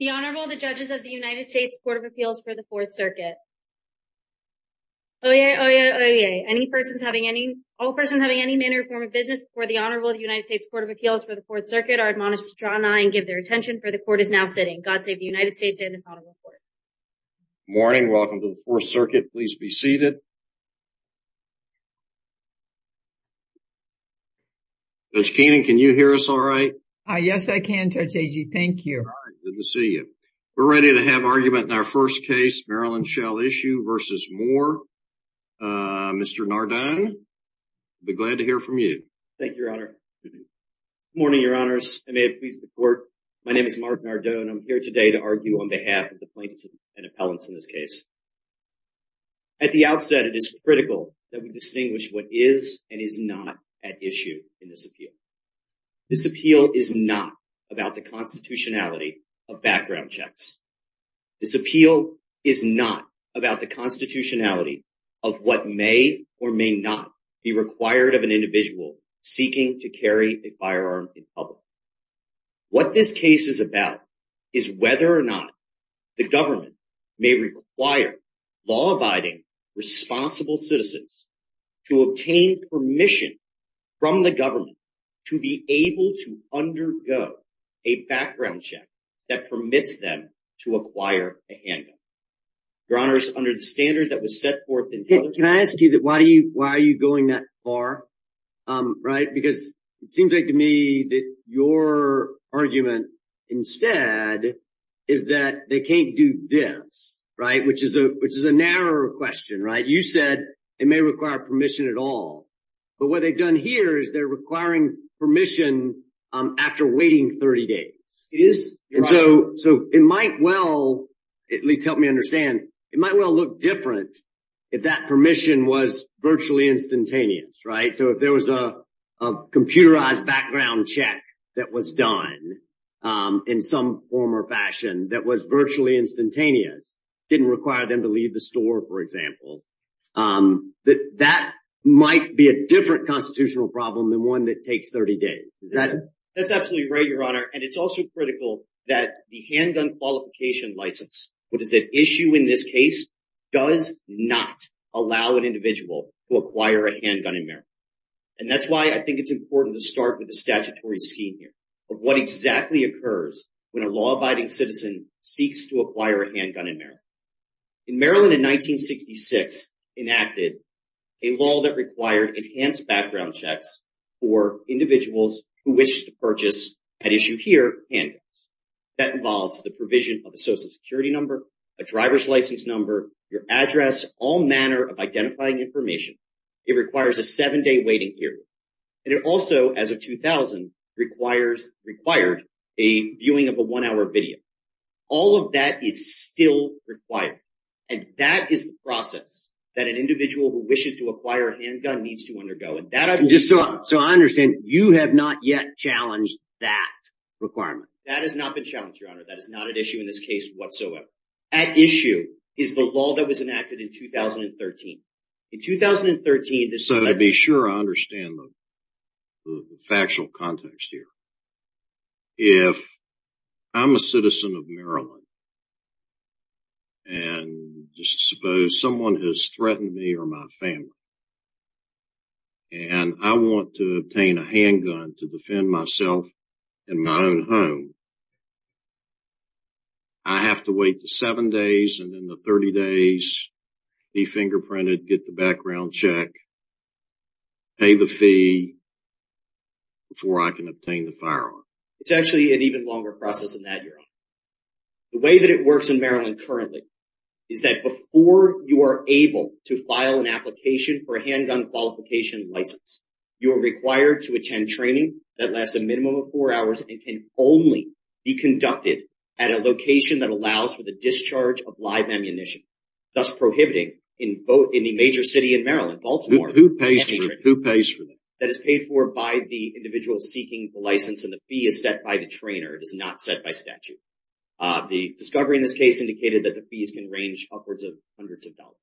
The Honorable, the Judges of the United States Court of Appeals for the Fourth Circuit. Any persons having any, all persons having any manner or form of business before the Honorable of the United States Court of Appeals for the Fourth Circuit are admonished to draw an eye and give their attention for the Court is now sitting. God save the United States and His Honorable Court. Good morning. Welcome to the Fourth Circuit. Please be seated. Judge Keenan, can you hear us all right? Yes, I can, Judge Agee. Thank you. We're ready to have argument in our first case, Maryland Shall Issue v. Moore. Mr. Nardone, I'll be glad to hear from you. Thank you, Your Honor. Good morning, Your Honors. I may have pleased the Court. My name is Mark Nardone. I'm here today to argue on behalf of the plaintiffs and appellants in this case. At the outset, it is critical that we distinguish what is and is not at issue in this appeal. This appeal is not about the constitutionality of background checks. This appeal is not about the constitutionality of what may or may not be required of an individual seeking to carry a firearm in public. What this case is about is whether or not the government may require law-abiding responsible citizens to obtain permission from the government to be able to undergo a background check that permits them to acquire a handgun. Your Honor, it's under the standard that was set forth in— Can I ask you, why are you going that far? It seems to me that your argument instead is that they can't do this, which is a narrower question. You said it may require permission at all, but what they've done here is they're requiring permission after waiting 30 days. So it might well—at least help me understand—it might well look different if that permission was virtually instantaneous. So if there was a computerized background check that was done in some form or fashion that was virtually instantaneous, didn't require them to leave the store, for example, that might be a different constitutional problem than one that takes 30 days. That's absolutely right, Your Honor, and it's also critical that the handgun qualification license, what is at issue in this case, does not allow an individual to acquire a handgun in of what exactly occurs when a law-abiding citizen seeks to acquire a handgun in Maryland. In Maryland in 1966, enacted a law that required enhanced background checks for individuals who wish to purchase, at issue here, handguns. That involves the provision of a social security number, a driver's license number, your address, all manner of identifying information. It requires a seven-day waiting period, and it also, as of 2000, requires—required—a viewing of a one-hour video. All of that is still required, and that is the process that an individual who wishes to acquire a handgun needs to undergo, and that— So I understand you have not yet challenged that requirement. That has not been challenged, Your Honor. That is not at issue in this case I'd be sure I understand the factual context here. If I'm a citizen of Maryland, and just suppose someone has threatened me or my family, and I want to obtain a handgun to defend myself in my own home, I have to wait the seven days and then the 30 days, be fingerprinted, get the background check, pay the fee before I can obtain the firearm. It's actually an even longer process than that, Your Honor. The way that it works in Maryland currently is that before you are able to file an application for a handgun qualification license, you are required to attend training that lasts a minimum of four hours and can only be conducted at a location that allows for the discharge of live ammunition, thus prohibiting in the major city in Maryland, Baltimore— Who pays for them? Who pays for them? That is paid for by the individual seeking the license, and the fee is set by the trainer. It is not set by statute. The discovery in this case indicated that the fees can range upwards of hundreds of dollars.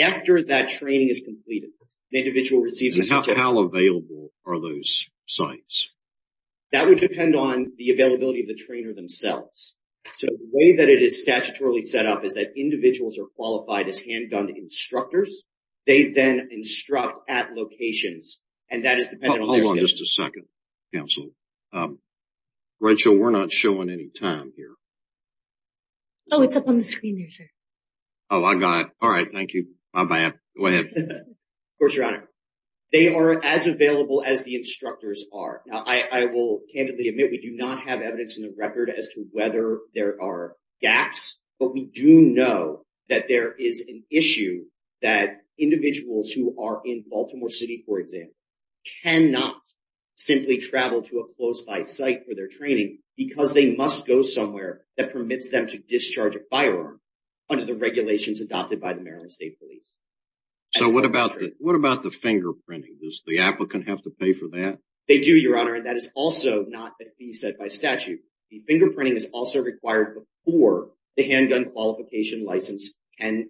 After that training is completed, the individual receives— How available are those sites? That would depend on the availability of the trainer themselves. So the way that it is at locations, and that is dependent on— Hold on just a second, counsel. Rachel, we're not showing any time here. Oh, it's up on the screen there, sir. Oh, I got it. All right. Thank you. Bye-bye. Go ahead. Of course, Your Honor. They are as available as the instructors are. Now, I will candidly admit we do not have evidence in the record as to whether there are gaps, but we do know that there is an issue that individuals who are in Baltimore City, for example, cannot simply travel to a close-by site for their training because they must go somewhere that permits them to discharge a firearm under the regulations adopted by the Maryland State Police. So what about the fingerprinting? Does the applicant have to pay for that? They do, Your Honor, and that is also not a fee set by statute. The fingerprinting is also required before the handgun qualification license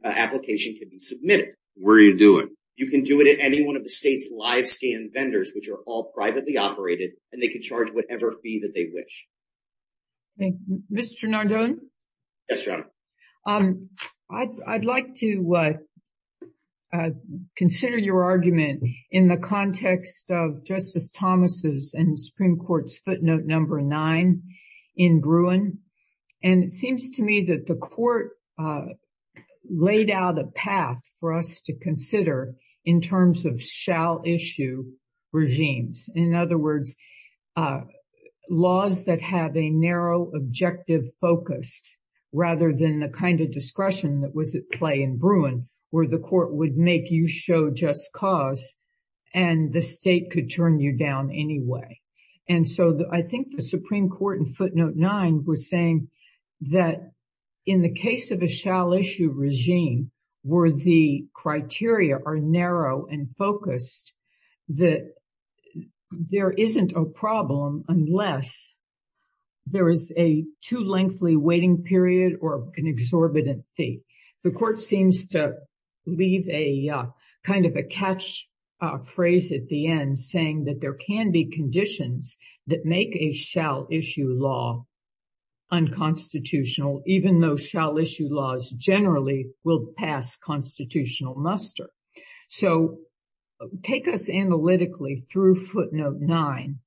application can be submitted. Where do you do it? You can do it at any one of the state's live scan vendors, which are all privately operated, and they can charge whatever fee that they wish. Mr. Nardone? Yes, Your Honor. I'd like to consider your argument in the context of Justice Thomas' and the Supreme Court's footnote number nine in Bruin, and it seems to me that the court laid out a path for us to consider in terms of shall-issue regimes. In other words, laws that have a narrow objective focus rather than the kind of discretion that was at play in Bruin, where the court would make you just cause and the state could turn you down anyway. And so I think the Supreme Court in footnote nine was saying that in the case of a shall-issue regime, where the criteria are narrow and focused, that there isn't a problem unless there is a too lengthy waiting period or an a catch phrase at the end saying that there can be conditions that make a shall-issue law unconstitutional, even though shall-issue laws generally will pass constitutional muster. So take us analytically through footnote nine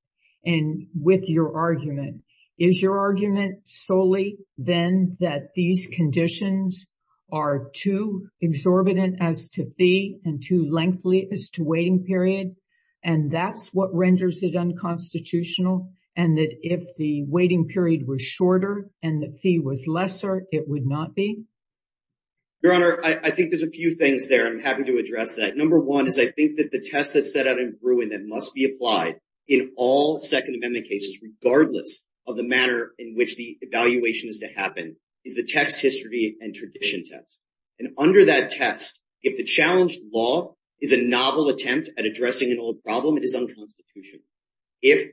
and with your argument. Is your argument solely then that these conditions are too exorbitant as to fee and too lengthy as to waiting period, and that's what renders it unconstitutional, and that if the waiting period were shorter and the fee was lesser, it would not be? Your Honor, I think there's a few things there. I'm happy to address that. Number one is I think that the test that's set out in Bruin that must be to happen is the text, history, and tradition test. And under that test, if the challenged law is a novel attempt at addressing an old problem, it is unconstitutional. If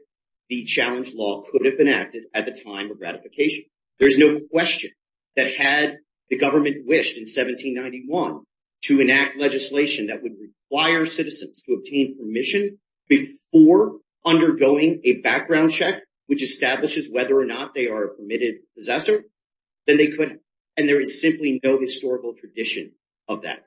the challenged law could have been acted at the time of gratification, there's no question that had the government wished in 1791 to enact legislation that would require citizens to obtain permission before undergoing a background check, which establishes whether or not they are permitted possessor, then they could. And there is simply no historical tradition of that.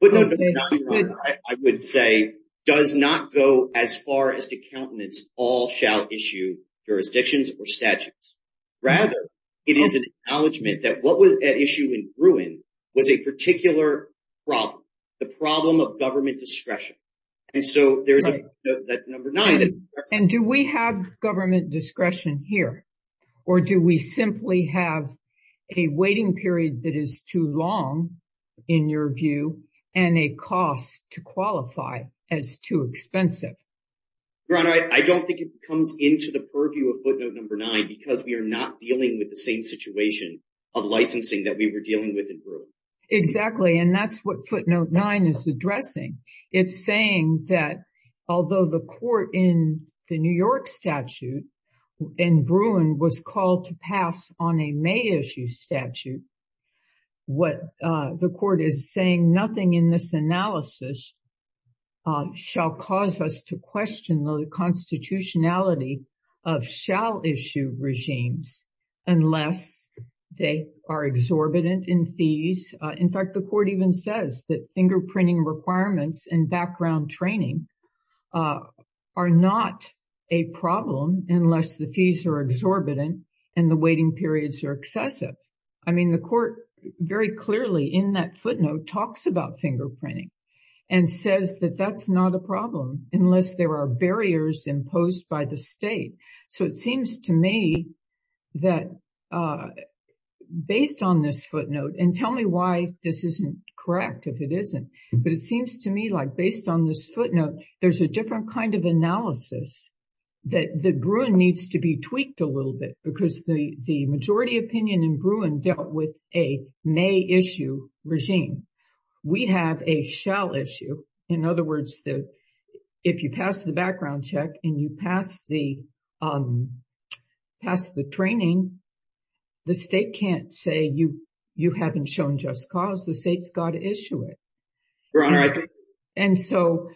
Footnote number nine, Your Honor, I would say does not go as far as to countenance all shall issue jurisdictions or statutes. Rather, it is an acknowledgment that what was at issue in Bruin was a particular problem, the problem of government discretion. And so there's that number nine. And do we have government discretion here or do we simply have a waiting period that is too long in your view and a cost to qualify as too expensive? Your Honor, I don't think it comes into the purview of footnote number nine because we are not dealing with the same situation of licensing that we were dealing with in Bruin. Exactly. And that's what footnote nine is saying, that although the court in the New York statute in Bruin was called to pass on a May issue statute, what the court is saying, nothing in this analysis shall cause us to question the constitutionality of shall issue regimes unless they are exorbitant in fees. In fact, the court even says that fingerprinting requirements and background training are not a problem unless the fees are exorbitant and the waiting periods are excessive. I mean, the court very clearly in that footnote talks about fingerprinting and says that that's not a problem unless there are barriers imposed by the state. So it seems to me that based on this this isn't correct if it isn't, but it seems to me like based on this footnote, there's a different kind of analysis that the Bruin needs to be tweaked a little bit because the majority opinion in Bruin dealt with a May issue regime. We have a shall issue. In other words, if you pass the cause, the state's got to issue it. And so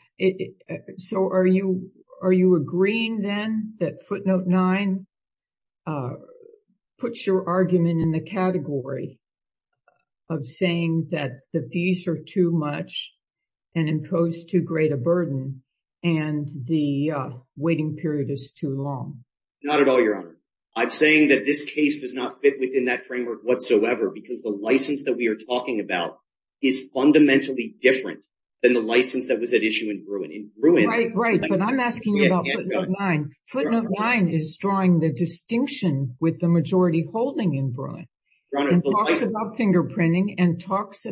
are you agreeing then that footnote nine puts your argument in the category of saying that the fees are too much and impose too great a burden and the waiting period is too long? Not at all, your honor. I'm saying that this case does fit within that framework whatsoever because the license that we are talking about is fundamentally different than the license that was at issue in Bruin. Right, but I'm asking you about footnote nine. Footnote nine is drawing the distinction with the majority holding in Bruin and talks about fingerprinting and talks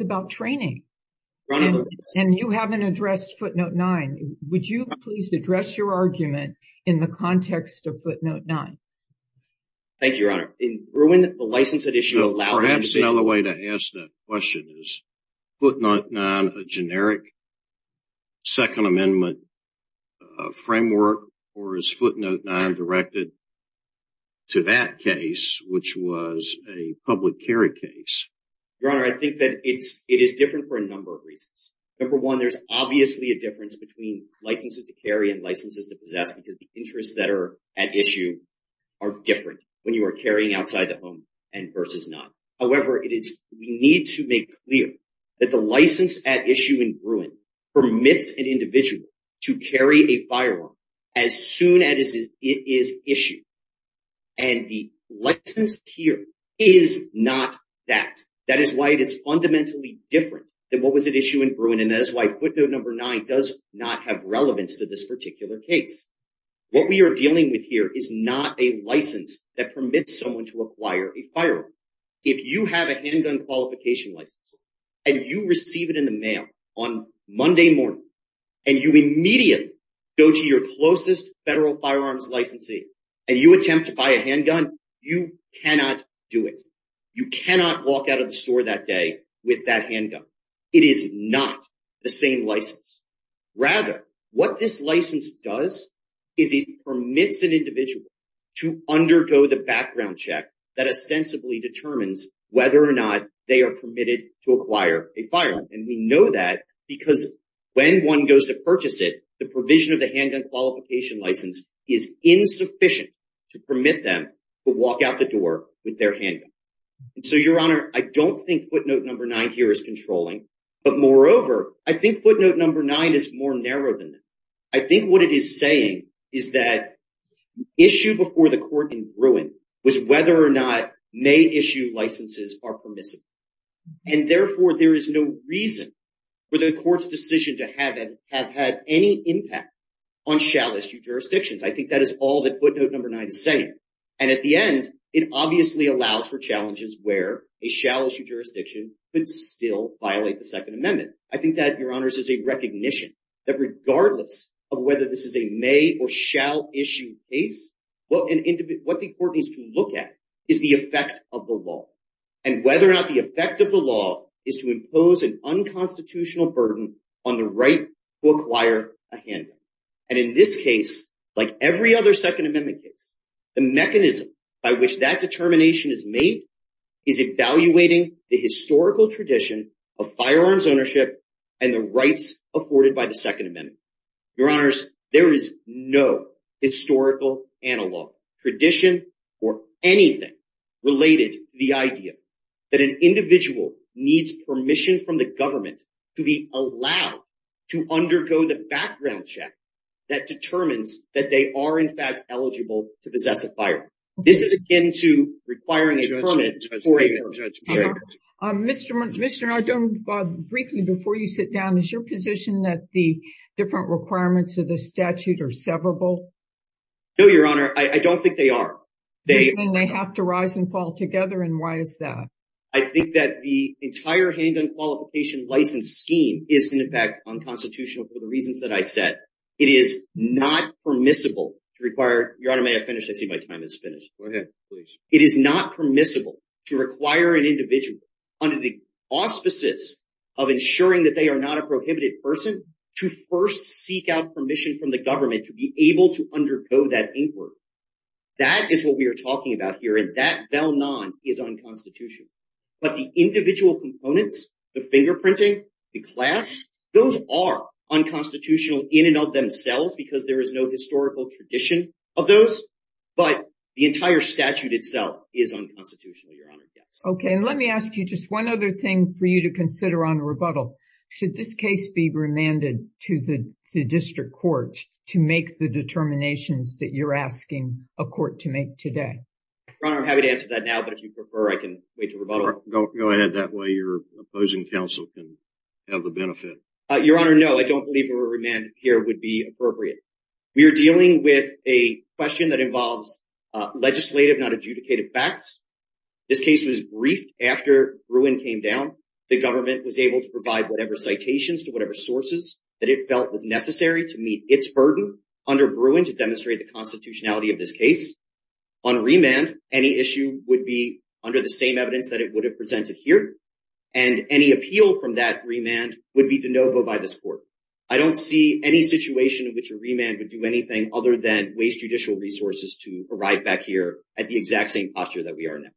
about training. And you haven't addressed footnote nine. Would you please address your argument in the context of footnote nine? Thank you, your honor. In Bruin, the license at issue allowed... Perhaps another way to ask that question is footnote nine a generic second amendment framework or is footnote nine directed to that case, which was a public carry case? Your honor, I think that it is different for a number of reasons. Number one, there's obviously a difference between licenses to carry and licenses to possess because the interests that are at issue are different when you are carrying outside the home and versus not. However, we need to make clear that the license at issue in Bruin permits an individual to carry a firearm as soon as it is issued. And the license here is not that. That is why it is fundamentally different than what was at issue in Bruin. And that is why footnote number nine does not have relevance to this particular case. What we are dealing with here is not a license that permits someone to acquire a firearm. If you have a handgun qualification license and you receive it in the mail on Monday morning and you immediately go to your closest federal firearms licensee and you attempt to buy a handgun, you cannot do it. You cannot walk out of the store that day with that handgun. It is not the same license. Rather, what this license does is it permits an individual to undergo the background check that ostensibly determines whether or not they are permitted to acquire a firearm. And we know that because when one goes to purchase it, the provision of the handgun qualification license is insufficient to permit them to walk out the door with their handgun. So your honor, I don't think footnote number nine here is controlling. But moreover, I think footnote number nine is more narrow than that. I think what it is saying is that issue before the court in Bruin was whether or not may issue licenses are permissible. And therefore, there is no reason for the court's decision to have had any impact on shallow jurisdictions. I think that is all that footnote number nine is saying. And at the end, it obviously allows for challenges where a shallow jurisdiction could still violate the Second Amendment. I think that, your honors, is a recognition that regardless of whether this is a may or shall issue case, what the court needs to look at is the effect of the law and whether or not the effect of the law is to impose an unconstitutional burden on the right to acquire a handgun. And in this case, like every other Second Amendment case, the mechanism by which that determination is made is evaluating the historical tradition of firearms ownership and the rights afforded by the Second Amendment. Your honors, there is no historical, analog, tradition, or anything related to the idea that an individual needs permission from the government to be allowed to undergo the background check that determines that they are, in fact, eligible to possess a firearm. This is akin to requiring a permit for a gun. Mr. Nardone, briefly before you sit down, is your position that the different requirements of the statute are severable? No, your honor. I don't think they are. They have to rise and fall together, and why is that? I think that the entire handgun qualification license scheme is, in effect, unconstitutional for the reasons that I said. It is not permissible to require—your honor, may I finish? I see my time is finished. Go ahead, please. It is not permissible to require an individual, under the auspices of ensuring that they are not a prohibited person, to first seek out permission from the government to be able to undergo that but the individual components, the fingerprinting, the class, those are unconstitutional in and of themselves because there is no historical tradition of those, but the entire statute itself is unconstitutional, your honor. Yes. Okay, and let me ask you just one other thing for you to consider on rebuttal. Should this case be remanded to the district court to make the determinations that you're asking a court to make today? Your honor, I'm happy to answer that now, but if you prefer, I can wait to rebuttal. Go ahead, that way your opposing counsel can have the benefit. Your honor, no, I don't believe a remand here would be appropriate. We are dealing with a question that involves legislative, not adjudicated facts. This case was briefed after Bruin came down. The government was able to provide whatever citations to whatever sources that it felt was necessary to meet its burden under Bruin to demonstrate the constitutionality of this case. On remand, any issue would be under the same evidence that it would have presented here and any appeal from that remand would be de novo by this court. I don't see any situation in which a remand would do anything other than waste judicial resources to arrive back here at the exact same posture that we are now.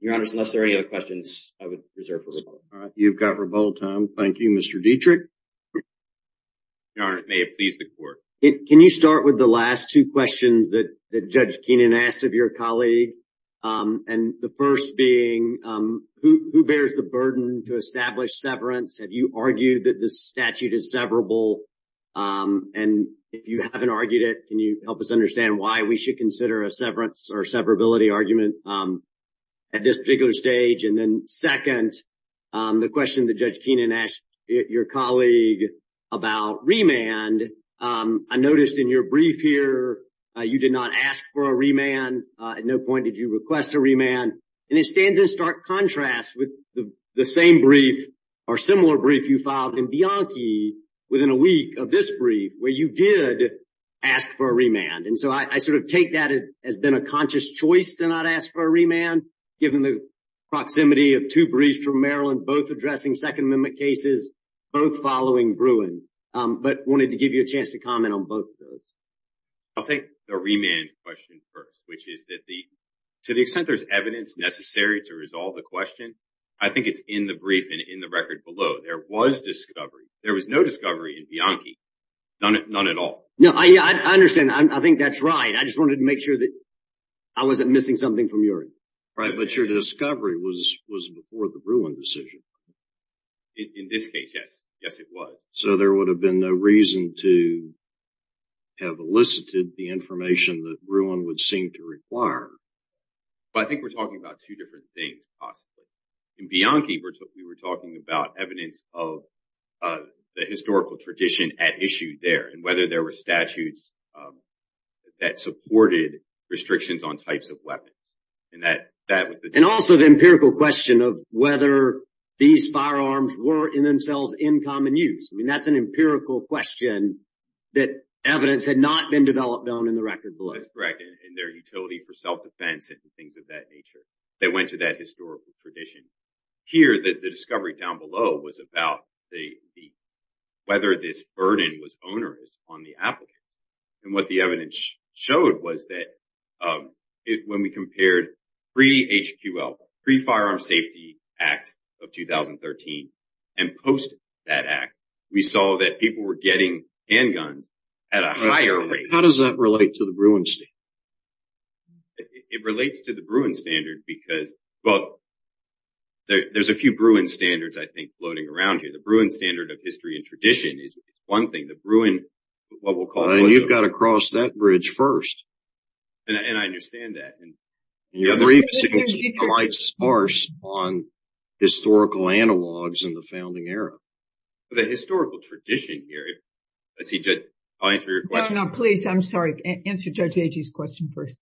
Your honor, unless there are any other questions, I would reserve for rebuttal. All right, you've got rebuttal time. Thank you, Mr. Dietrich. Your honor, may it please the court. Can you start with the last two questions that Judge Keenan asked of your colleague? And the first being, who bears the burden to establish severance? Have you argued that this statute is severable? And if you haven't argued it, can you help us understand why we should consider a severance or severability argument at this particular stage? Second, the question that Judge Keenan asked your colleague about remand, I noticed in your brief here, you did not ask for a remand. At no point did you request a remand. And it stands in stark contrast with the same brief or similar brief you filed in Bianchi within a week of this brief, where you did ask for a remand. And so I sort of take that as been a conscious choice to not ask for a remand, given the proximity of two briefs from Maryland, both addressing Second Amendment cases, both following Bruin. But wanted to give you a chance to comment on both of those. I'll take the remand question first, which is that to the extent there's evidence necessary to resolve the question, I think it's in the brief and in the record below. There was discovery. There was no discovery in Bianchi. None at all. No, I understand. I think that's right. I just wanted to make sure that I wasn't missing something from yours. But your discovery was before the Bruin decision. In this case, yes. Yes, it was. So there would have been no reason to have elicited the information that Bruin would seem to require. But I think we're talking about two different things, possibly. In Bianchi, we were talking about evidence of the historical tradition at issue there, and whether there were statutes that supported restrictions on types of weapons. And that was the... And also the empirical question of whether these firearms were in themselves in common use. I mean, that's an empirical question that evidence had not been developed on in the record below. That's correct. And their utility for self-defense and things of that nature that went to that historical tradition. Here, the discovery down below was about whether this burden was onerous on the applicants. And what the evidence showed was that when we compared pre-HQL, Pre-Firearm Safety Act of 2013, and post that act, we saw that people were getting handguns at a higher rate. How does that relate to the Bruin standard? It relates to the Bruin standard because... Well, there's a few Bruin standards, I think, floating around here. The Bruin standard of history and tradition is one thing. The Bruin, what we'll call... You've got to cross that bridge first. And I understand that. And the brief is quite sparse on historical analogs in the founding era. The historical tradition here... Let's see, Judge, I'll answer your question. No, please. I'm sorry. Answer Judge Agee's question first.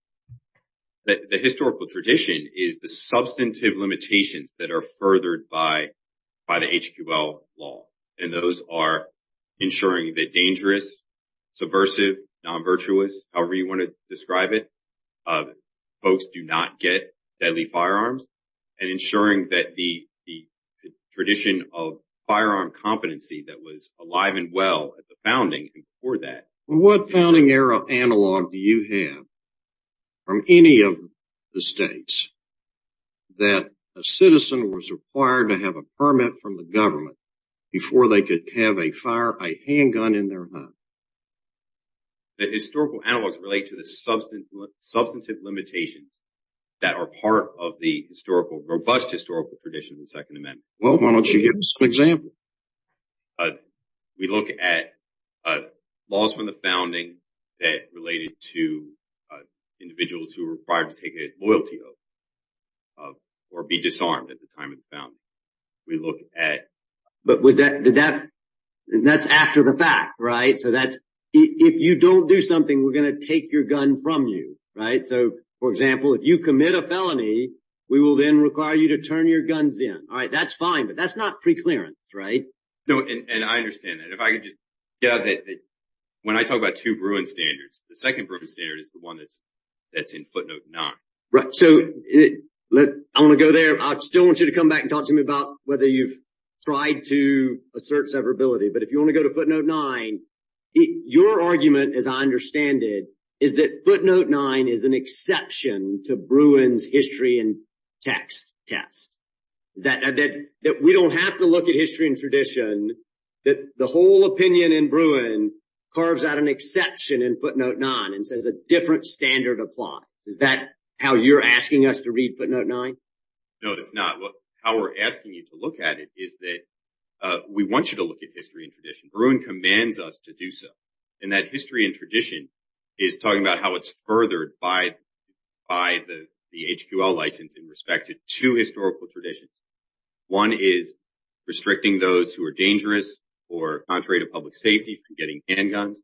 The historical tradition is the substantive limitations that are furthered by the HQL law. And those are ensuring that dangerous, subversive, non-virtuous, however you want to describe it, folks do not get deadly firearms. And ensuring that the tradition of firearm competency that was alive and well at the founding before that... What founding era analog do you have from any of the states that a citizen was required to have a permit from the government before they could have a handgun in their hand? The historical analogs relate to the substantive limitations that are part of the robust historical tradition of the Second Amendment. Well, why don't you give us an example? We look at laws from the founding that related to individuals who were required to take a loyalty oath or be disarmed at the time of the founding. We look at... But that's after the fact, right? So, if you don't do something, we're going to take your gun from you, right? So, for example, if you commit a felony, we will then require you to turn your guns in. All right. That's fine, but that's not preclearance, right? No, and I understand that. If I could just get out that when I talk about two Bruin standards, the second Bruin standard is the one that's in footnote nine. Right. So, I want to go there. I still want you to come back and talk to me about whether you've tried to assert severability, but if you want to go to footnote nine, your argument, as I understand it, is that footnote nine is an exception to Bruin's history and text test, that we don't have to look at history and tradition, that the whole opinion in Bruin carves out an exception in footnote nine and says a different standard applies. Is that how you're asking us to read footnote nine? No, it's not. How we're asking you to look at it is that we want you to look at history and tradition. Bruin commands us to do so, and that history and tradition is talking about how it's furthered by the HQL license in respect to two historical traditions. One is restricting those who are dangerous or contrary to public safety from getting handguns,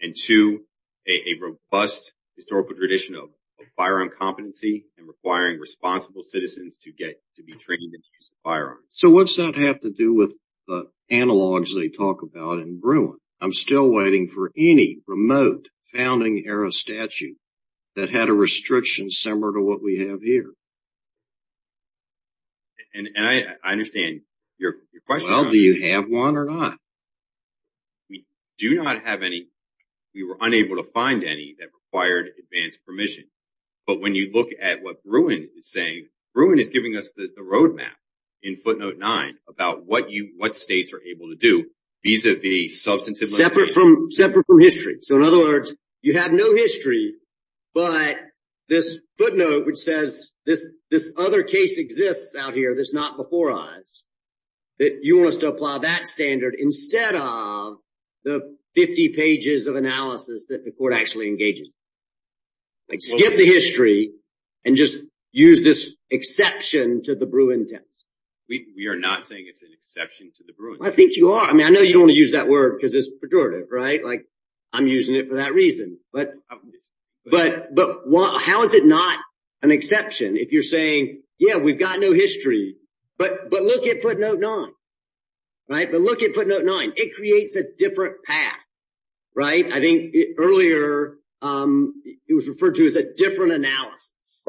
and two, a robust historical tradition of firearm competency and requiring responsible citizens to get to be trained in the use of firearms. So what's that have to do with the analogs they talk about in Bruin? I'm still waiting for any remote founding era statue that had a restriction similar to what we have here. And I understand your question. Well, do you have one or not? We do not have any. We were unable to find any that required advanced permission, but when you look at what Bruin is saying, Bruin is giving us the roadmap in footnote nine about what states are able to do vis-a-vis substantive limitations. Separate from history. So in other words, you have no history, but this footnote which says this other case exists out here that's not before us, that you want us to apply that standard instead of the 50 pages of analysis that the court actually engages in. Like skip the history and just use this exception to the Bruin test. We are not saying it's an exception to the Bruin test. I think you are. I mean, I know you don't want to use that word because it's pejorative, right? Like I'm using it for that reason, but how is it not an exception if you're saying, yeah, we've got no history, but look at footnote nine, right? But look at footnote nine. It creates a different path, right? I think earlier it was referred to as a different analysis,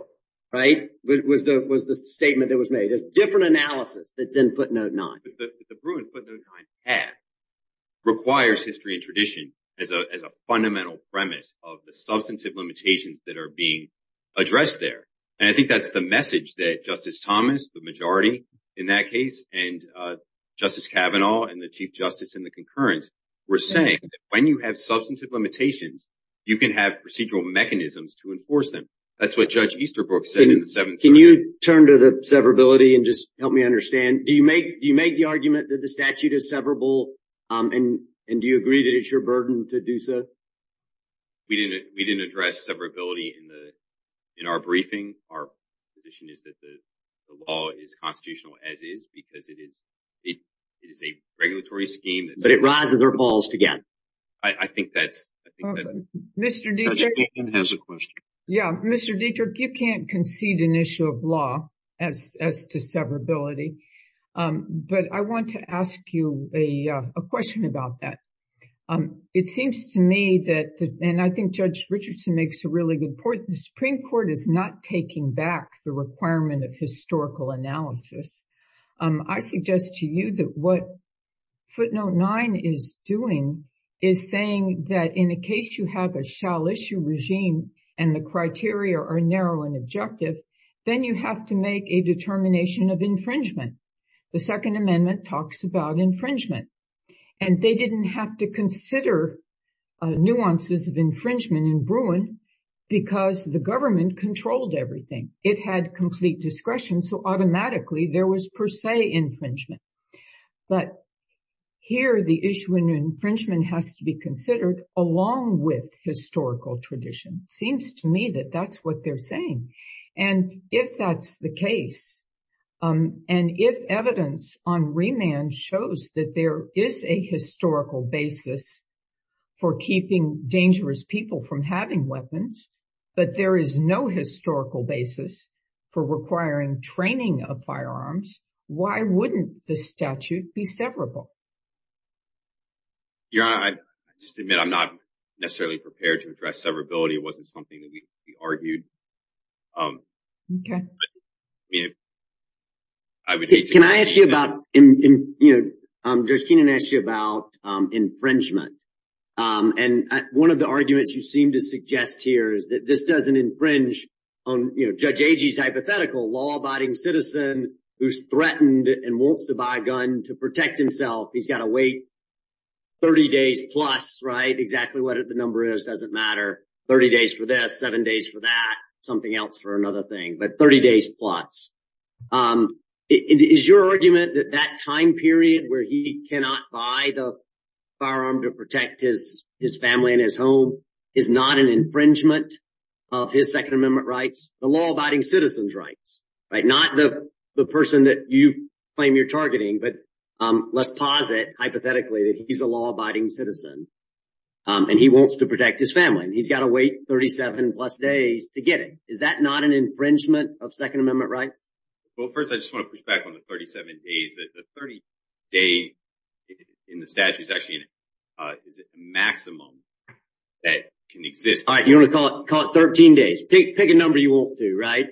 right? But it was the statement that was made. There's different analysis that's in footnote nine. But the Bruin footnote nine path requires history and tradition as a fundamental premise of the substantive limitations that are being addressed there. And I think that's the message that Justice Thomas, the majority in that case, and Justice Kavanaugh and the Chief Justice in the concurrence were saying that when you have substantive limitations, you can have procedural mechanisms to enforce them. That's what Judge Easterbrook said in the 7th Circuit. Can you turn to the severability and just help me understand? Do you make the argument that the statute is severable? And do you agree that it's your burden to do so? We didn't address severability in our briefing. Our position is that the law is constitutional as is, because it is a regulatory scheme. But it rises or falls again. I think that's... Mr. Dietrich, you can't concede an issue of law as to severability. But I want to ask you a question about that. It seems to me that, and I think Judge Richardson makes a really good point, the Supreme Court is not taking back the requirement of historical analysis. I suggest to you that what footnote 9 is doing is saying that in a case you have a shall-issue regime and the criteria are narrow and objective, then you have to make a determination of infringement. The Second Amendment talks about infringement. And they didn't have to consider nuances of infringement in Bruin, because the government controlled everything. It had complete discretion, so automatically there was per se infringement. But here the issue in infringement has to be considered along with historical tradition. Seems to me that that's what they're saying. And if that's the case, and if evidence on remand shows that there is a historical basis for keeping dangerous people from having weapons, but there is no historical basis for requiring training of firearms, why wouldn't the statute be severable? Your Honor, I just admit I'm not necessarily prepared to address severability. It wasn't something that we argued. Can I ask you about, you know, Judge Keenan asked you about infringement. And one of the arguments you seem to suggest here is that this doesn't infringe on, you know, Judge Agee's hypothetical law-abiding citizen who's threatened and wants to buy a gun to protect himself. He's got to wait 30 days plus, right? Exactly what the number is doesn't matter. 30 days for this, seven days for that, something else for another thing, but 30 days plus. Is your argument that that time period where he cannot buy the firearm to protect his family and his home is not an infringement of his Second Amendment rights, the law-abiding citizen's rights, right? Not the person that you claim you're targeting, but let's posit hypothetically that he's a law-abiding citizen and he wants to protect his family. He's got to wait 37 plus days to get it. Is that not an infringement of Second Amendment rights? Well, first, I just want to push back on the 37 days. The 30 day in the statute is actually a maximum that can exist. All right, you want to call it 13 days. Pick a number you want to, right?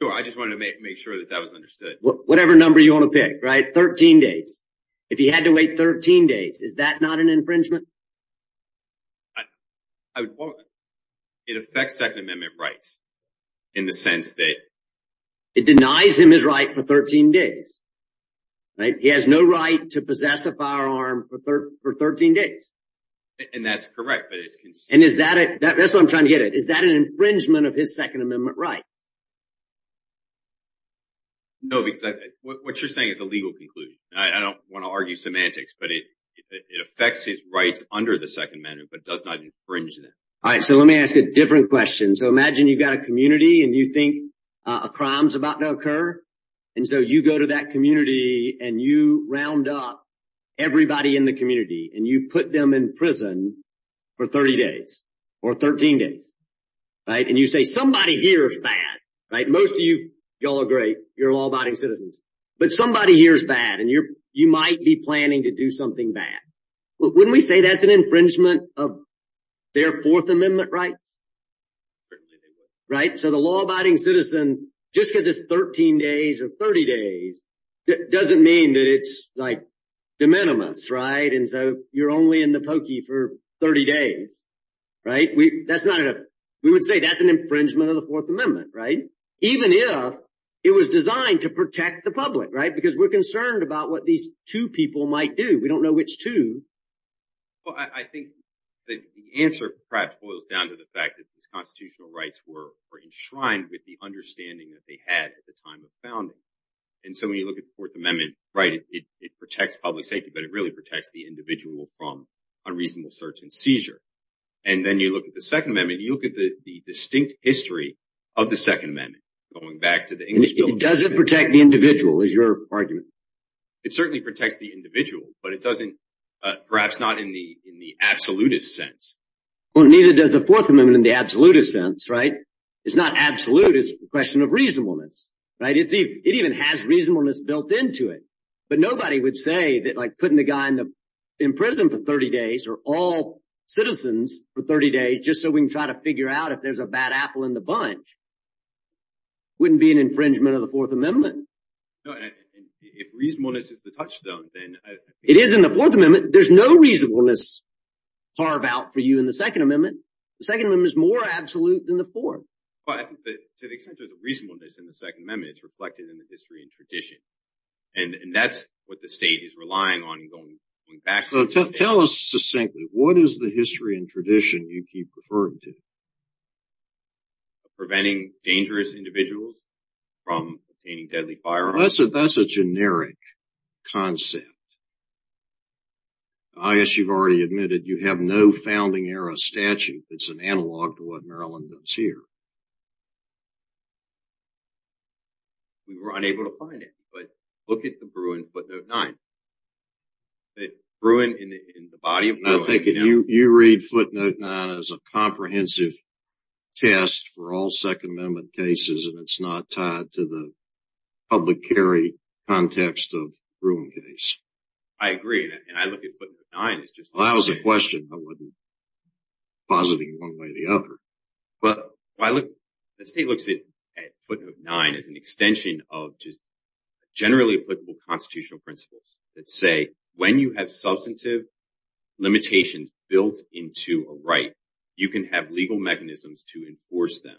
Sure, I just wanted to make sure that that was understood. Whatever number you want to pick, right? 13 days. If he had to wait 13 days, is that not an infringement? I would quote, it affects Second Amendment rights in the sense that... It denies him his right for 13 days, right? He has no right to possess a firearm for 13 days. And that's correct, but it's... And is that it? That's what I'm trying to get at. Is that an infringement of his Second Amendment rights? No, because what you're saying is a legal conclusion. All right, so let me ask a different question. So imagine you've got a community and you think a crime's about to occur. And so you go to that community and you round up everybody in the community and you put them in prison for 30 days or 13 days, right? And you say, somebody here is bad, right? Most of you, y'all are great. You're law-abiding citizens. But somebody here is bad and you might be planning to do something bad. Wouldn't we say that's an infringement of their Fourth Amendment rights? Right? So the law-abiding citizen, just because it's 13 days or 30 days, doesn't mean that it's like de minimis, right? And so you're only in the pokey for 30 days, right? We would say that's an infringement of the Fourth Amendment, right? Even if it was designed to protect the public, right? Because we're concerned about what these two people might do. We don't know which two. Well, I think the answer perhaps boils down to the fact that these constitutional rights were enshrined with the understanding that they had at the time of founding. And so when you look at the Fourth Amendment, right, it protects public safety, but it really protects the individual from unreasonable search and seizure. And then you look at the Second Amendment, you look at the distinct history of the Second Amendment, going back to the English Bill. It doesn't protect the individual, is your argument. It certainly protects the individual, but it doesn't, perhaps not in the absolutist sense. Well, neither does the Fourth Amendment in the absolutist sense, right? It's not absolute. It's a question of reasonableness, right? It even has reasonableness built into it. But nobody would say that putting the guy in prison for 30 days, or all citizens for 30 days, just so we can try to figure out if there's a bad apple in the bunch, wouldn't be an infringement of the Fourth Amendment. No, and if reasonableness is the touchstone, then... It is in the Fourth Amendment. There's no reasonableness carved out for you in the Second Amendment. The Second Amendment is more absolute than the Fourth. But to the extent there's a reasonableness in the Second Amendment, it's reflected in the history and tradition. And that's what the state is relying on going back to. Tell us succinctly, what is the history and tradition you keep referring to? Preventing dangerous individuals from obtaining deadly firearms? That's a generic concept. I guess you've already admitted you have no Founding Era statute that's an analog to what Maryland does here. We were unable to find it, but look at the Bruin footnote 9. The Bruin in the body of... You read footnote 9 as a comprehensive test for all Second Amendment cases, and it's not tied to the public carry context of the Bruin case. I agree, and I look at footnote 9 as just... That was a question. I wasn't positing one way or the other. But the state looks at footnote 9 as an extension of just generally applicable constitutional principles that say, when you have substantive limitations built into a right, you can have legal mechanisms to enforce them.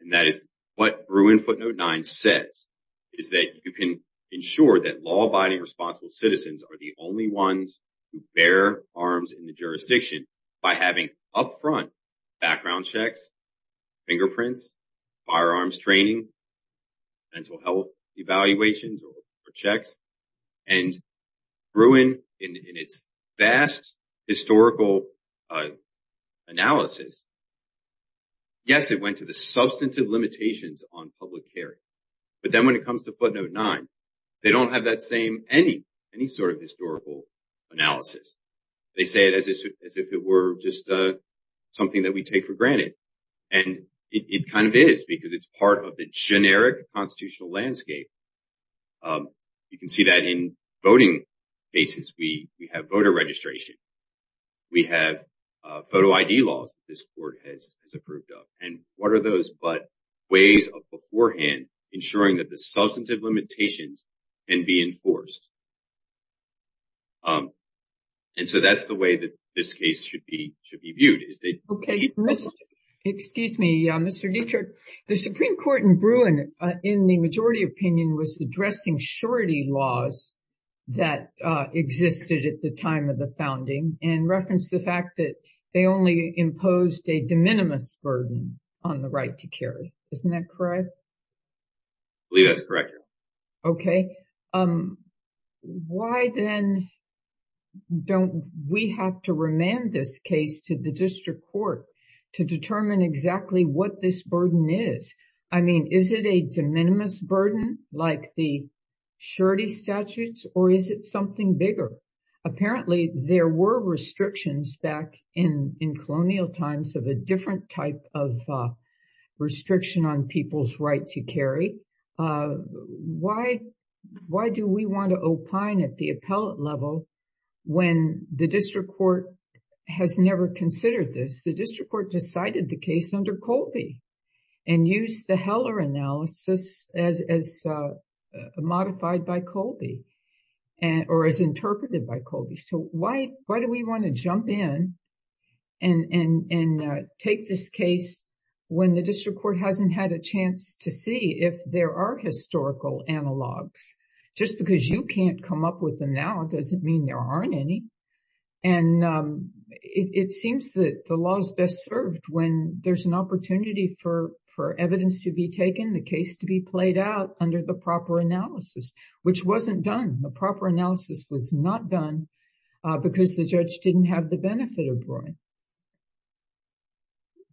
And that is what Bruin footnote 9 says, is that you can ensure that law-abiding responsible citizens are the only ones who bear arms in the jurisdiction by having upfront background checks, fingerprints, firearms training, mental health evaluations or checks. And Bruin, in its vast historical analysis, yes, it went to the substantive limitations on public carry. But then when it comes to footnote 9, they don't have that same, any sort of historical analysis. They say it as if it were just something that we take for granted. And it kind of is because it's part of the generic constitutional landscape. You can see that in voting basis, we have voter registration. We have photo ID laws that this court has approved of. And what are those but ways of beforehand ensuring that the substantive limitations can be enforced? And so that's the way that this case should be viewed. Okay. Excuse me, Mr. Dietrich. The Supreme Court in Bruin, in the majority opinion, was addressing surety laws that existed at the time of the founding and referenced the fact that they only imposed a de minimis burden on the right to carry. Isn't that correct? I believe that's correct. Okay. Um, why then don't we have to remand this case to the district court to determine exactly what this burden is? I mean, is it a de minimis burden like the surety statutes? Or is it something bigger? Apparently, there were restrictions back in colonial times of a different type of restriction on people's right to carry. Uh, why do we want to opine at the appellate level when the district court has never considered this? The district court decided the case under Colby and used the Heller analysis as modified by Colby or as interpreted by Colby. So why do we want to jump in and take this case when the district court hasn't had a chance to see if there are historical analogs? Just because you can't come up with them now doesn't mean there aren't any. And, um, it seems that the law is best served when there's an opportunity for evidence to be taken, the case to be played out under the proper analysis, which wasn't done. The proper analysis was not done because the judge didn't have the benefit of drawing.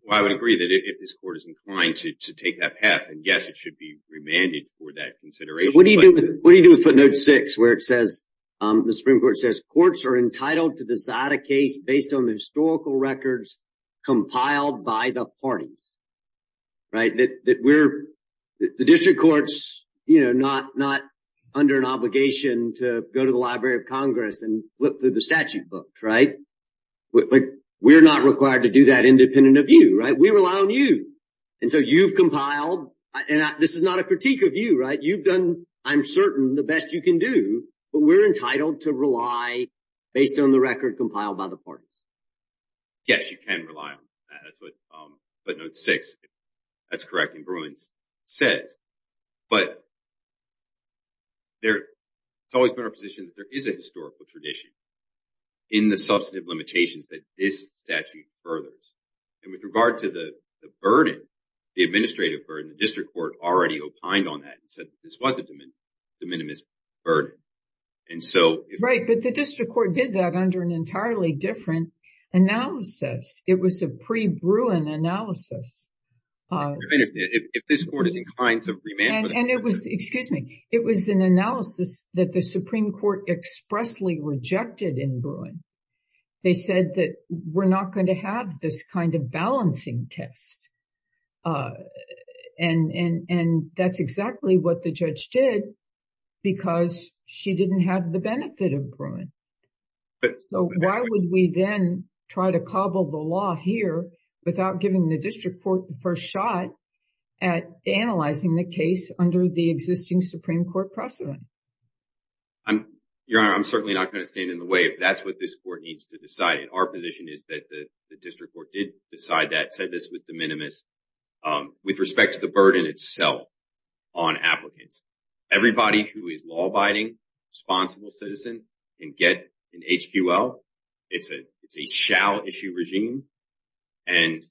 Well, I would agree that if this court is inclined to take that path, yes, it should be remanded for that consideration. What do you do with footnote six where it says, the Supreme Court says, courts are entitled to decide a case based on the historical records compiled by the parties. Right, that we're, the district courts, you know, not under an obligation to go to the Library of Congress and flip through the statute books, right? We're not required to do that independent of you, right? We rely on you. And so you've compiled, and this is not a critique of you, right? You've done, I'm certain, the best you can do, but we're entitled to rely based on the record compiled by the parties. Yes, you can rely on that. That's what footnote six, that's correct in Bruins, says. But there, it's always been our position that there is a historical tradition in the substantive limitations that this statute furthers. And with regard to the burden, the administrative burden, the district court already opined on that and said that this was a de minimis burden. And so... Right, but the district court did that under an entirely different analysis. It was a pre-Bruin analysis. If this court is inclined to remand... And it was, excuse me, it was an analysis that the Supreme Court expressly rejected in Bruin. They said that we're not going to have this kind of balancing test. And that's exactly what the judge did because she didn't have the benefit of Bruin. So why would we then try to cobble the law here without giving the district court the first shot at analyzing the case under the existing Supreme Court precedent? Your Honor, I'm certainly not going to stand in the way but that's what this court needs to decide. And our position is that the district court did decide that, said this was de minimis with respect to the burden itself on applicants. Everybody who is law-abiding, responsible citizen can get an HQL. It's a shall issue regime. And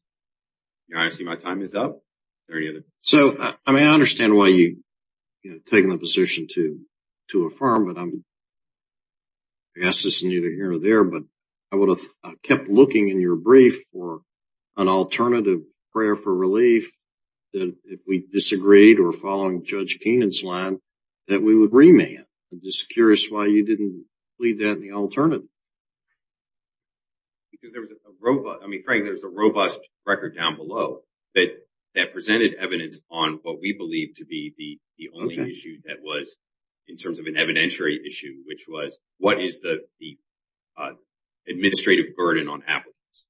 Your Honor, I see my time is up. Is there any other... So, I mean, I understand why you, you know, taking the position to affirm but I'm, I guess this is neither here or there but I would have kept looking in your brief for an alternative prayer for relief that if we disagreed or following Judge Keenan's line that we would remand. I'm just curious why you didn't leave that in the alternative. Because there was a robust... I mean, Frank, there's a robust record down below that presented evidence on what we believe to be the only issue that was in terms of an evidentiary issue which was what is the administrative burden on applicants?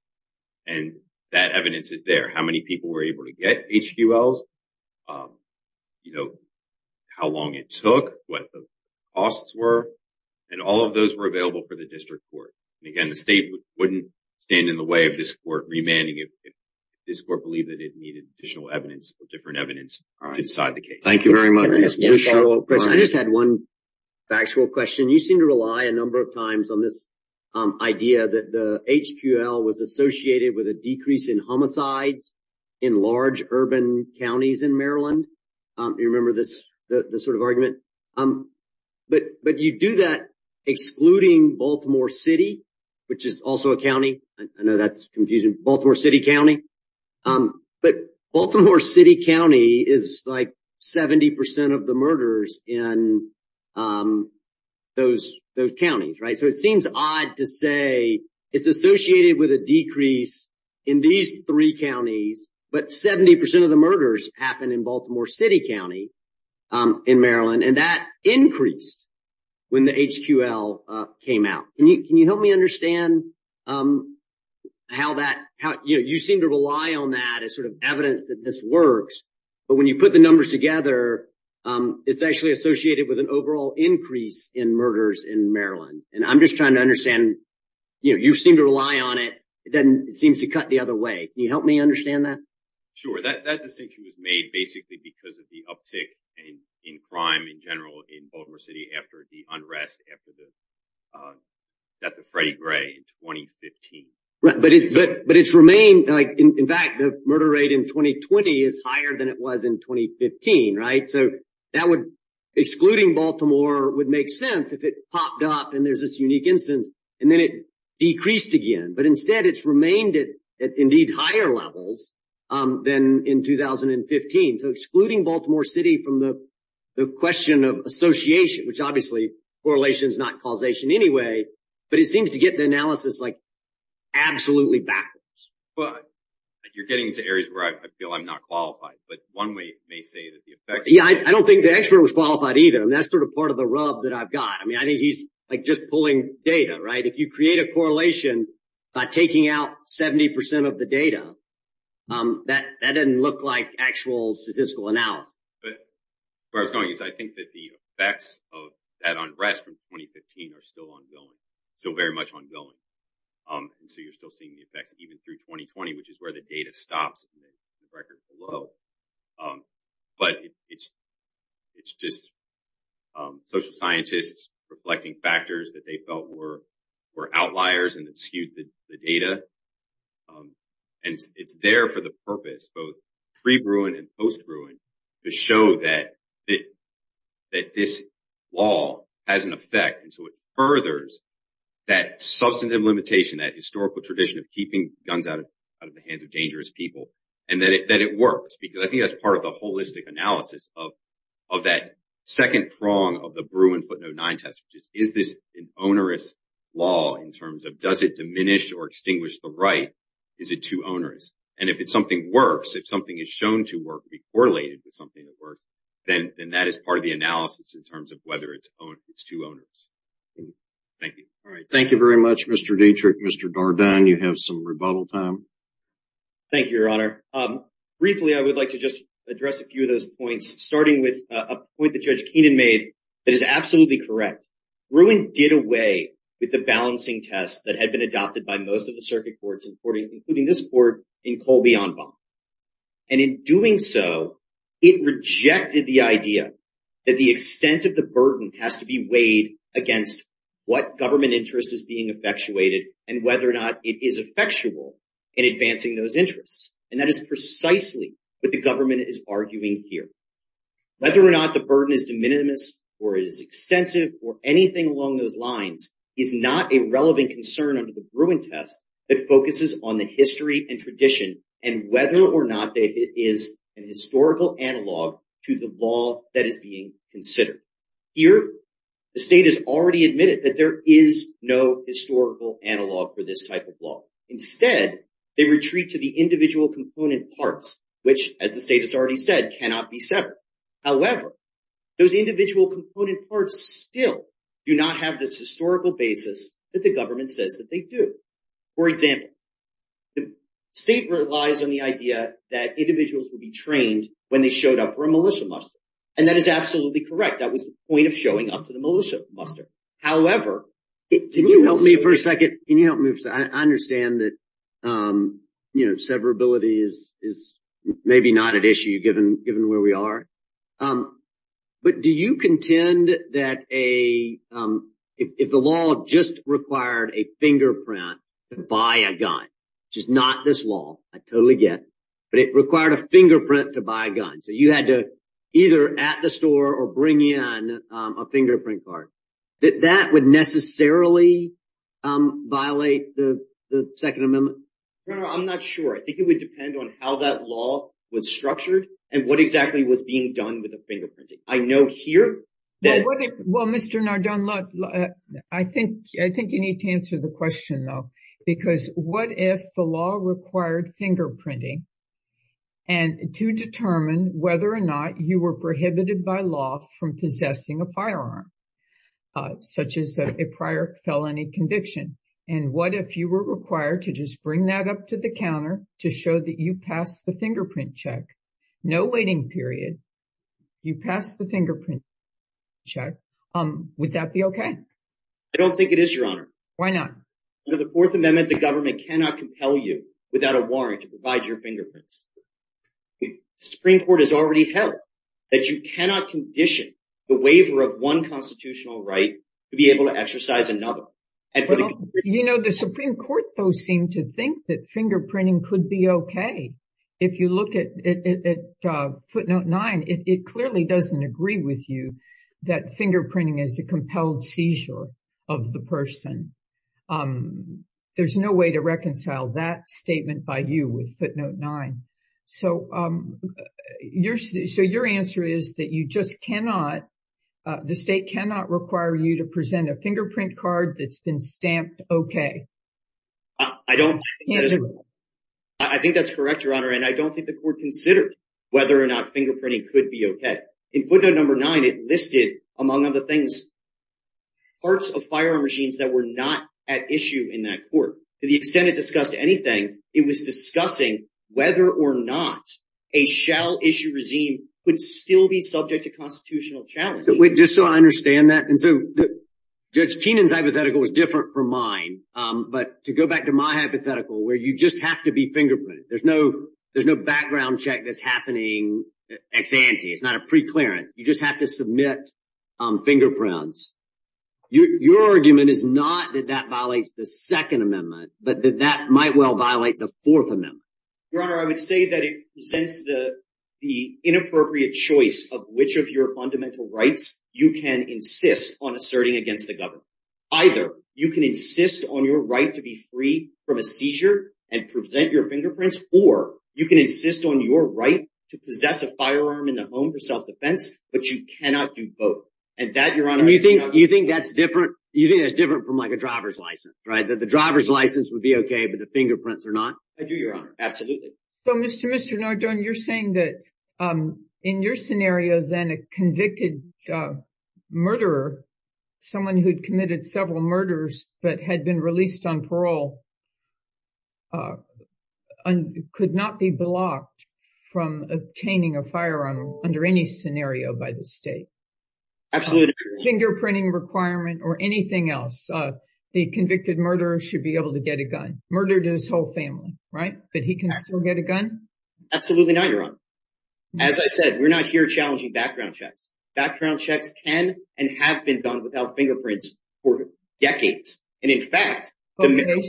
And that evidence is there. How many people were able to get HQLs? You know, how long it took, what the costs were and all of those were available for the district court. And again, the state wouldn't stand in the way of this court remanding if this court believed that it needed additional evidence or different evidence to decide the case. Thank you very much. I just had one factual question. You seem to rely a number of times on this idea that the HQL was associated with a decrease in homicides in large urban counties in Maryland. You remember this sort of argument? But you do that excluding Baltimore City which is also a county. I know that's confusing. Baltimore City County. But Baltimore City County is like 70% of the murders in those counties, right? So it seems odd to say it's associated with a decrease in these three counties but 70% of the murders happen in Baltimore City County in Maryland. And that increased when the HQL came out. Can you help me understand how that, you seem to rely on that as sort of evidence that this works. But when you put the numbers together, it's actually associated with an overall increase in murders in Maryland. And I'm just trying to understand, you seem to rely on it. It doesn't, it seems to cut the other way. Can you help me understand that? Sure. That distinction was made basically because of the uptick in crime in general in Baltimore City after the unrest after the death of Freddie Gray in 2015. But it's remained like, in fact, the murder rate in 2020 is higher than it was in 2015, right? So that would, excluding Baltimore would make sense if it popped up and there's this unique instance and then it decreased again. But instead it's remained at indeed higher levels than in 2015. So excluding Baltimore City from the question of association which obviously correlation is not causation anyway but it seems to get the analysis like absolutely backwards. But you're getting into areas where I feel I'm not qualified but one way may say that the effects- Yeah, I don't think the expert was qualified either. And that's sort of part of the rub that I've got. I mean, I think he's like just pulling data, right? If you create a correlation by taking out 70% of the data that doesn't look like actual statistical analysis. But where I was going is I think that the effects of that unrest from 2015 are still ongoing, still very much ongoing. And so you're still seeing the effects even through 2020 which is where the data stops in the record below. But it's just social scientists reflecting factors that they felt were outliers and skewed the data. And it's there for the purpose both pre-Bruin and post-Bruin to show that this law has an effect. And so it furthers that substantive limitation, that historical tradition of keeping guns out of the hands of dangerous people. And that it works because I think that's part of the holistic analysis of that second prong of the Bruin footnote nine test which is, is this an onerous law in terms of does it diminish or extinguish the right? Is it too onerous? And if it's something works, if something is shown to work, be correlated to something that works, then that is part of the analysis in terms of whether it's too onerous. Thank you. All right, thank you very much, Mr. Dietrich. Mr. Dardenne, you have some rebuttal time. Thank you, Your Honor. Briefly, I would like to just address a few of those points starting with a point that Judge Keenan made that is absolutely correct. Bruin did away with the balancing tests that had been adopted by most of the circuit courts including this court in Colby-Anbaum. And in doing so, it rejected the idea that the extent of the burden has to be weighed against what government interest is being effectuated and whether or not it is effectual in advancing those interests. And that is precisely what the government is arguing here. Whether or not the burden is de minimis or is extensive or anything along those lines is not a relevant concern under the Bruin test that focuses on the history and tradition and whether or not it is an historical analog to the law that is being considered. Here, the state has already admitted that there is no historical analog for this type of law. Instead, they retreat to the individual component parts which as the state has already said cannot be severed. However, those individual component parts still do not have this historical basis that the government says that they do. For example, the state relies on the idea that individuals will be trained when they showed up for a militia muster. And that is absolutely correct. That was the point of showing up to the militia muster. However, can you help me for a second? Can you help me? I understand that severability is maybe not an issue given where we are. But do you contend that if the law just required a fingerprint to buy a gun, which is not this law, I totally get, but it required a fingerprint to buy a gun, so you had to either at the store or bring in a fingerprint card, that that would necessarily violate the Second Amendment? No, I'm not sure. I think it would depend on how that law was structured and what exactly was being done with the fingerprinting. I know here that- Well, Mr. Nardone, I think you need to answer the question though, because what if the law required fingerprinting to determine whether or not you were prohibited by law from possessing a firearm, such as a prior felony conviction? And what if you were required to just bring that up to the counter to show that you passed the fingerprint check? No waiting period. You passed the fingerprint check. Would that be okay? I don't think it is, Your Honor. Why not? Under the Fourth Amendment, the government cannot compel you without a warrant to provide your fingerprints. Supreme Court has already held that you cannot condition the waiver of one constitutional right to be able to exercise another. You know, the Supreme Court, though, seemed to think that fingerprinting could be okay. If you look at footnote nine, it clearly doesn't agree with you that fingerprinting is a compelled seizure of the person. There's no way to reconcile that statement by you with footnote nine. So your answer is that you just cannot, the state cannot require you to present a fingerprint card that's been stamped okay. I don't think that is- I don't think the court considered whether or not fingerprinting could be okay. In footnote number nine, it listed, among other things, parts of firearm regimes that were not at issue in that court. To the extent it discussed anything, it was discussing whether or not a shell issue regime would still be subject to constitutional challenge. Just so I understand that, and so Judge Keenan's hypothetical was different from mine, but to go back to my hypothetical where you just have to be fingerprinted, there's no background check that's happening ex ante. It's not a pre-clearance. You just have to submit fingerprints. Your argument is not that that violates the second amendment, but that that might well violate the fourth amendment. Your Honor, I would say that it presents the inappropriate choice of which of your fundamental rights you can insist on asserting against the government. Either you can insist on your right to be free from a seizure and present your fingerprints, or you can insist on your right to possess a firearm in the home for self-defense, but you cannot do both. You think that's different from a driver's license, right? The driver's license would be okay, but the fingerprints are not? I do, Your Honor, absolutely. So, Mr. Nardone, you're saying that in your scenario, then a convicted murderer, someone who'd committed several murders but had been released on parole, could not be blocked from obtaining a firearm under any scenario by the state? Absolutely. Fingerprinting requirement or anything else, the convicted murderer should be able to get a gun. Murdered his whole family, right? But he can still get a gun? Absolutely not, Your Honor. As I said, we're not here challenging background checks. Background checks can and have been done without fingerprints for decades. And in fact, the-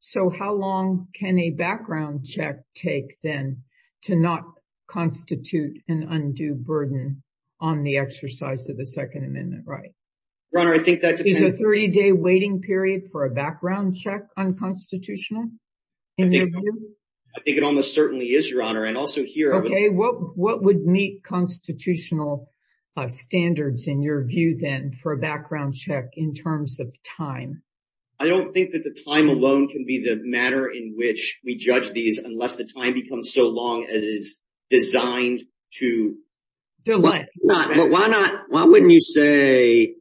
So how long can a background check take then to not constitute an undue burden on the exercise of the Second Amendment, right? Your Honor, I think that depends- Is a 30-day waiting period for a background check unconstitutional in your view? I think it almost certainly is, Your Honor. And also here- Okay, what would meet constitutional standards in your view then for a background check in terms of time? I don't think that the time alone can be the matter in which we judge these unless the time becomes so long as it is designed to- To what? Why not- Why wouldn't you say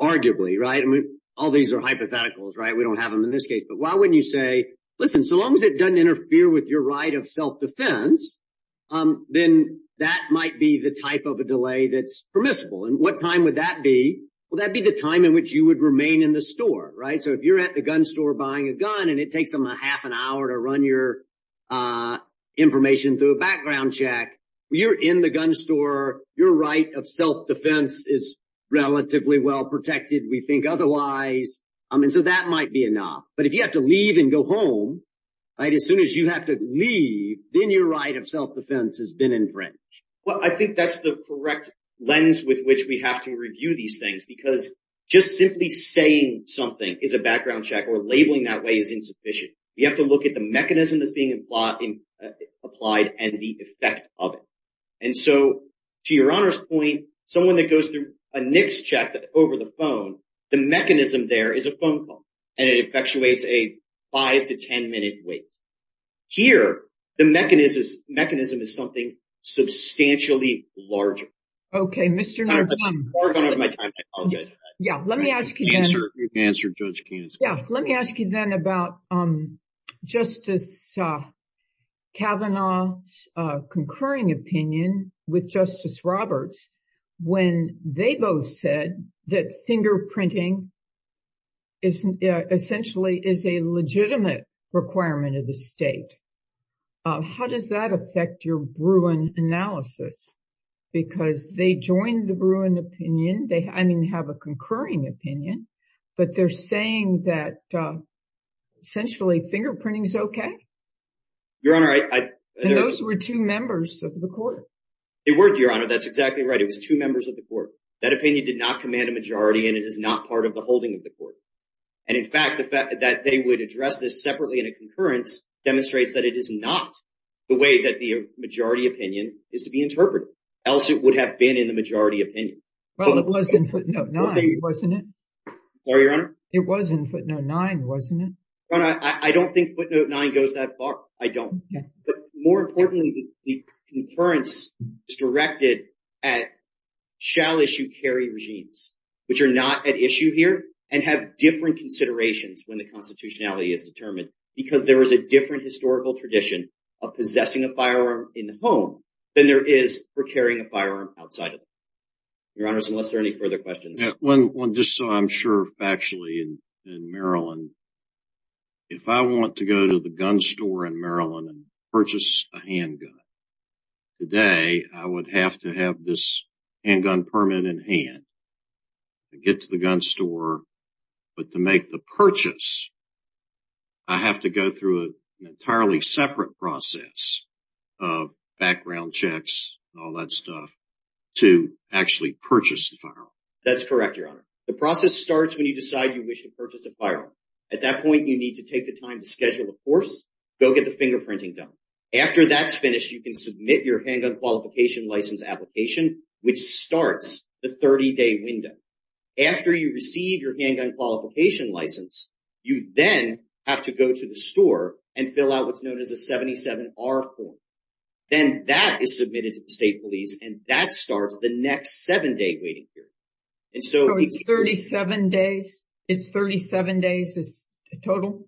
arguably, right? I mean, all these are hypotheticals, right? We don't have them in this case. But why wouldn't you say, listen, so long as it doesn't interfere with your right of self-defense, then that might be the type of a delay that's permissible. And what time would that be? Well, that'd be the time in which you would remain in the store, right? So if you're at the gun store buying a gun and it takes them a half an hour to run your information through a background check, you're in the gun store, your right of self-defense is relatively well protected, we think otherwise. I mean, so that might be enough. But if you have to leave and go home, right? As soon as you have to leave, then your right of self-defense has been infringed. Well, I think that's the correct lens with which we have to review these things because just simply saying something is a background check or labeling that way is insufficient. We have to look at the mechanism that's being applied and the effect of it. And so, to your Honor's point, someone that goes through a NICS check over the phone, the mechanism there is a phone call and it effectuates a five to 10 minute wait. Here, the mechanism is something substantially larger. Okay, Mr. Narvone. Narvone, I'm out of my time, I apologize. Yeah, let me ask you then. You can answer Judge Keenan's question. Yeah, let me ask you then about Justice Kavanaugh's concurring opinion with Justice Roberts when they both said that fingerprinting essentially is a legitimate requirement of the state. How does that affect your Bruin analysis? Because they joined the Bruin opinion, I mean, have a concurring opinion, but they're saying that essentially fingerprinting is okay? Your Honor, I... And those were two members of the court. They weren't, Your Honor. That's exactly right. It was two members of the court. That opinion did not command a majority and it is not part of the holding of the court. And in fact, the fact that they would address this separately in a concurrence demonstrates that it is not the way that the majority opinion is to be interpreted, else it would have been in the majority opinion. Well, it wasn't, no, it wasn't. Sorry, Your Honor. It was in footnote nine, wasn't it? Your Honor, I don't think footnote nine goes that far. I don't, but more importantly, the concurrence is directed at shall issue carry regimes, which are not at issue here and have different considerations when the constitutionality is determined because there was a different historical tradition of possessing a firearm in the home than there is for carrying a firearm outside of the home. Your Honors, unless there are any further questions. Just so I'm sure factually in Maryland, if I want to go to the gun store in Maryland and purchase a handgun today, I would have to have this handgun permit in hand to get to the gun store. But to make the purchase, I have to go through an entirely separate process of background checks and all that stuff to actually purchase the firearm. That's correct, Your Honor. The process starts when you decide you wish to purchase a firearm. At that point, you need to take the time to schedule a course, go get the fingerprinting done. After that's finished, you can submit your handgun qualification license application, which starts the 30-day window. After you receive your handgun qualification license, you then have to go to the store and fill out what's known as a 77-R form. Then that is submitted to the state police and that starts the next seven-day waiting period. So it's 37 days? It's 37 days total?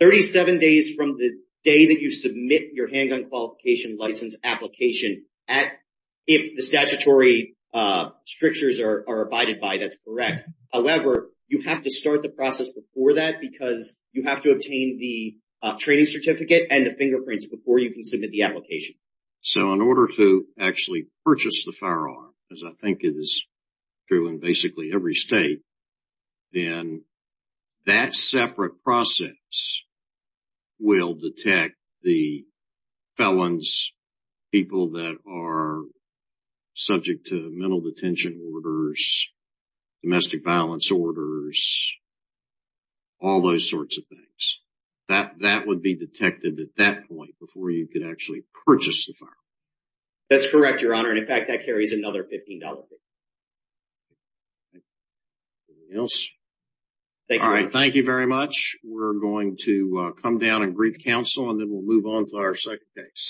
37 days from the day that you submit your handgun qualification license application if the statutory strictures are abided by. That's correct. However, you have to start the process before that because you have to obtain the training certificate and the fingerprints before you can submit the application. So in order to actually purchase the firearm, as I think it is true in basically every state, then that separate process will detect the felons, people that are subject to mental detention orders, domestic violence orders, all those sorts of things. That would be detected at that point before you could actually purchase the firearm. That's correct, Your Honor. And in fact, that carries another $15. Anything else? All right, thank you very much. We're going to come down and brief counsel and then we'll move on to our second case.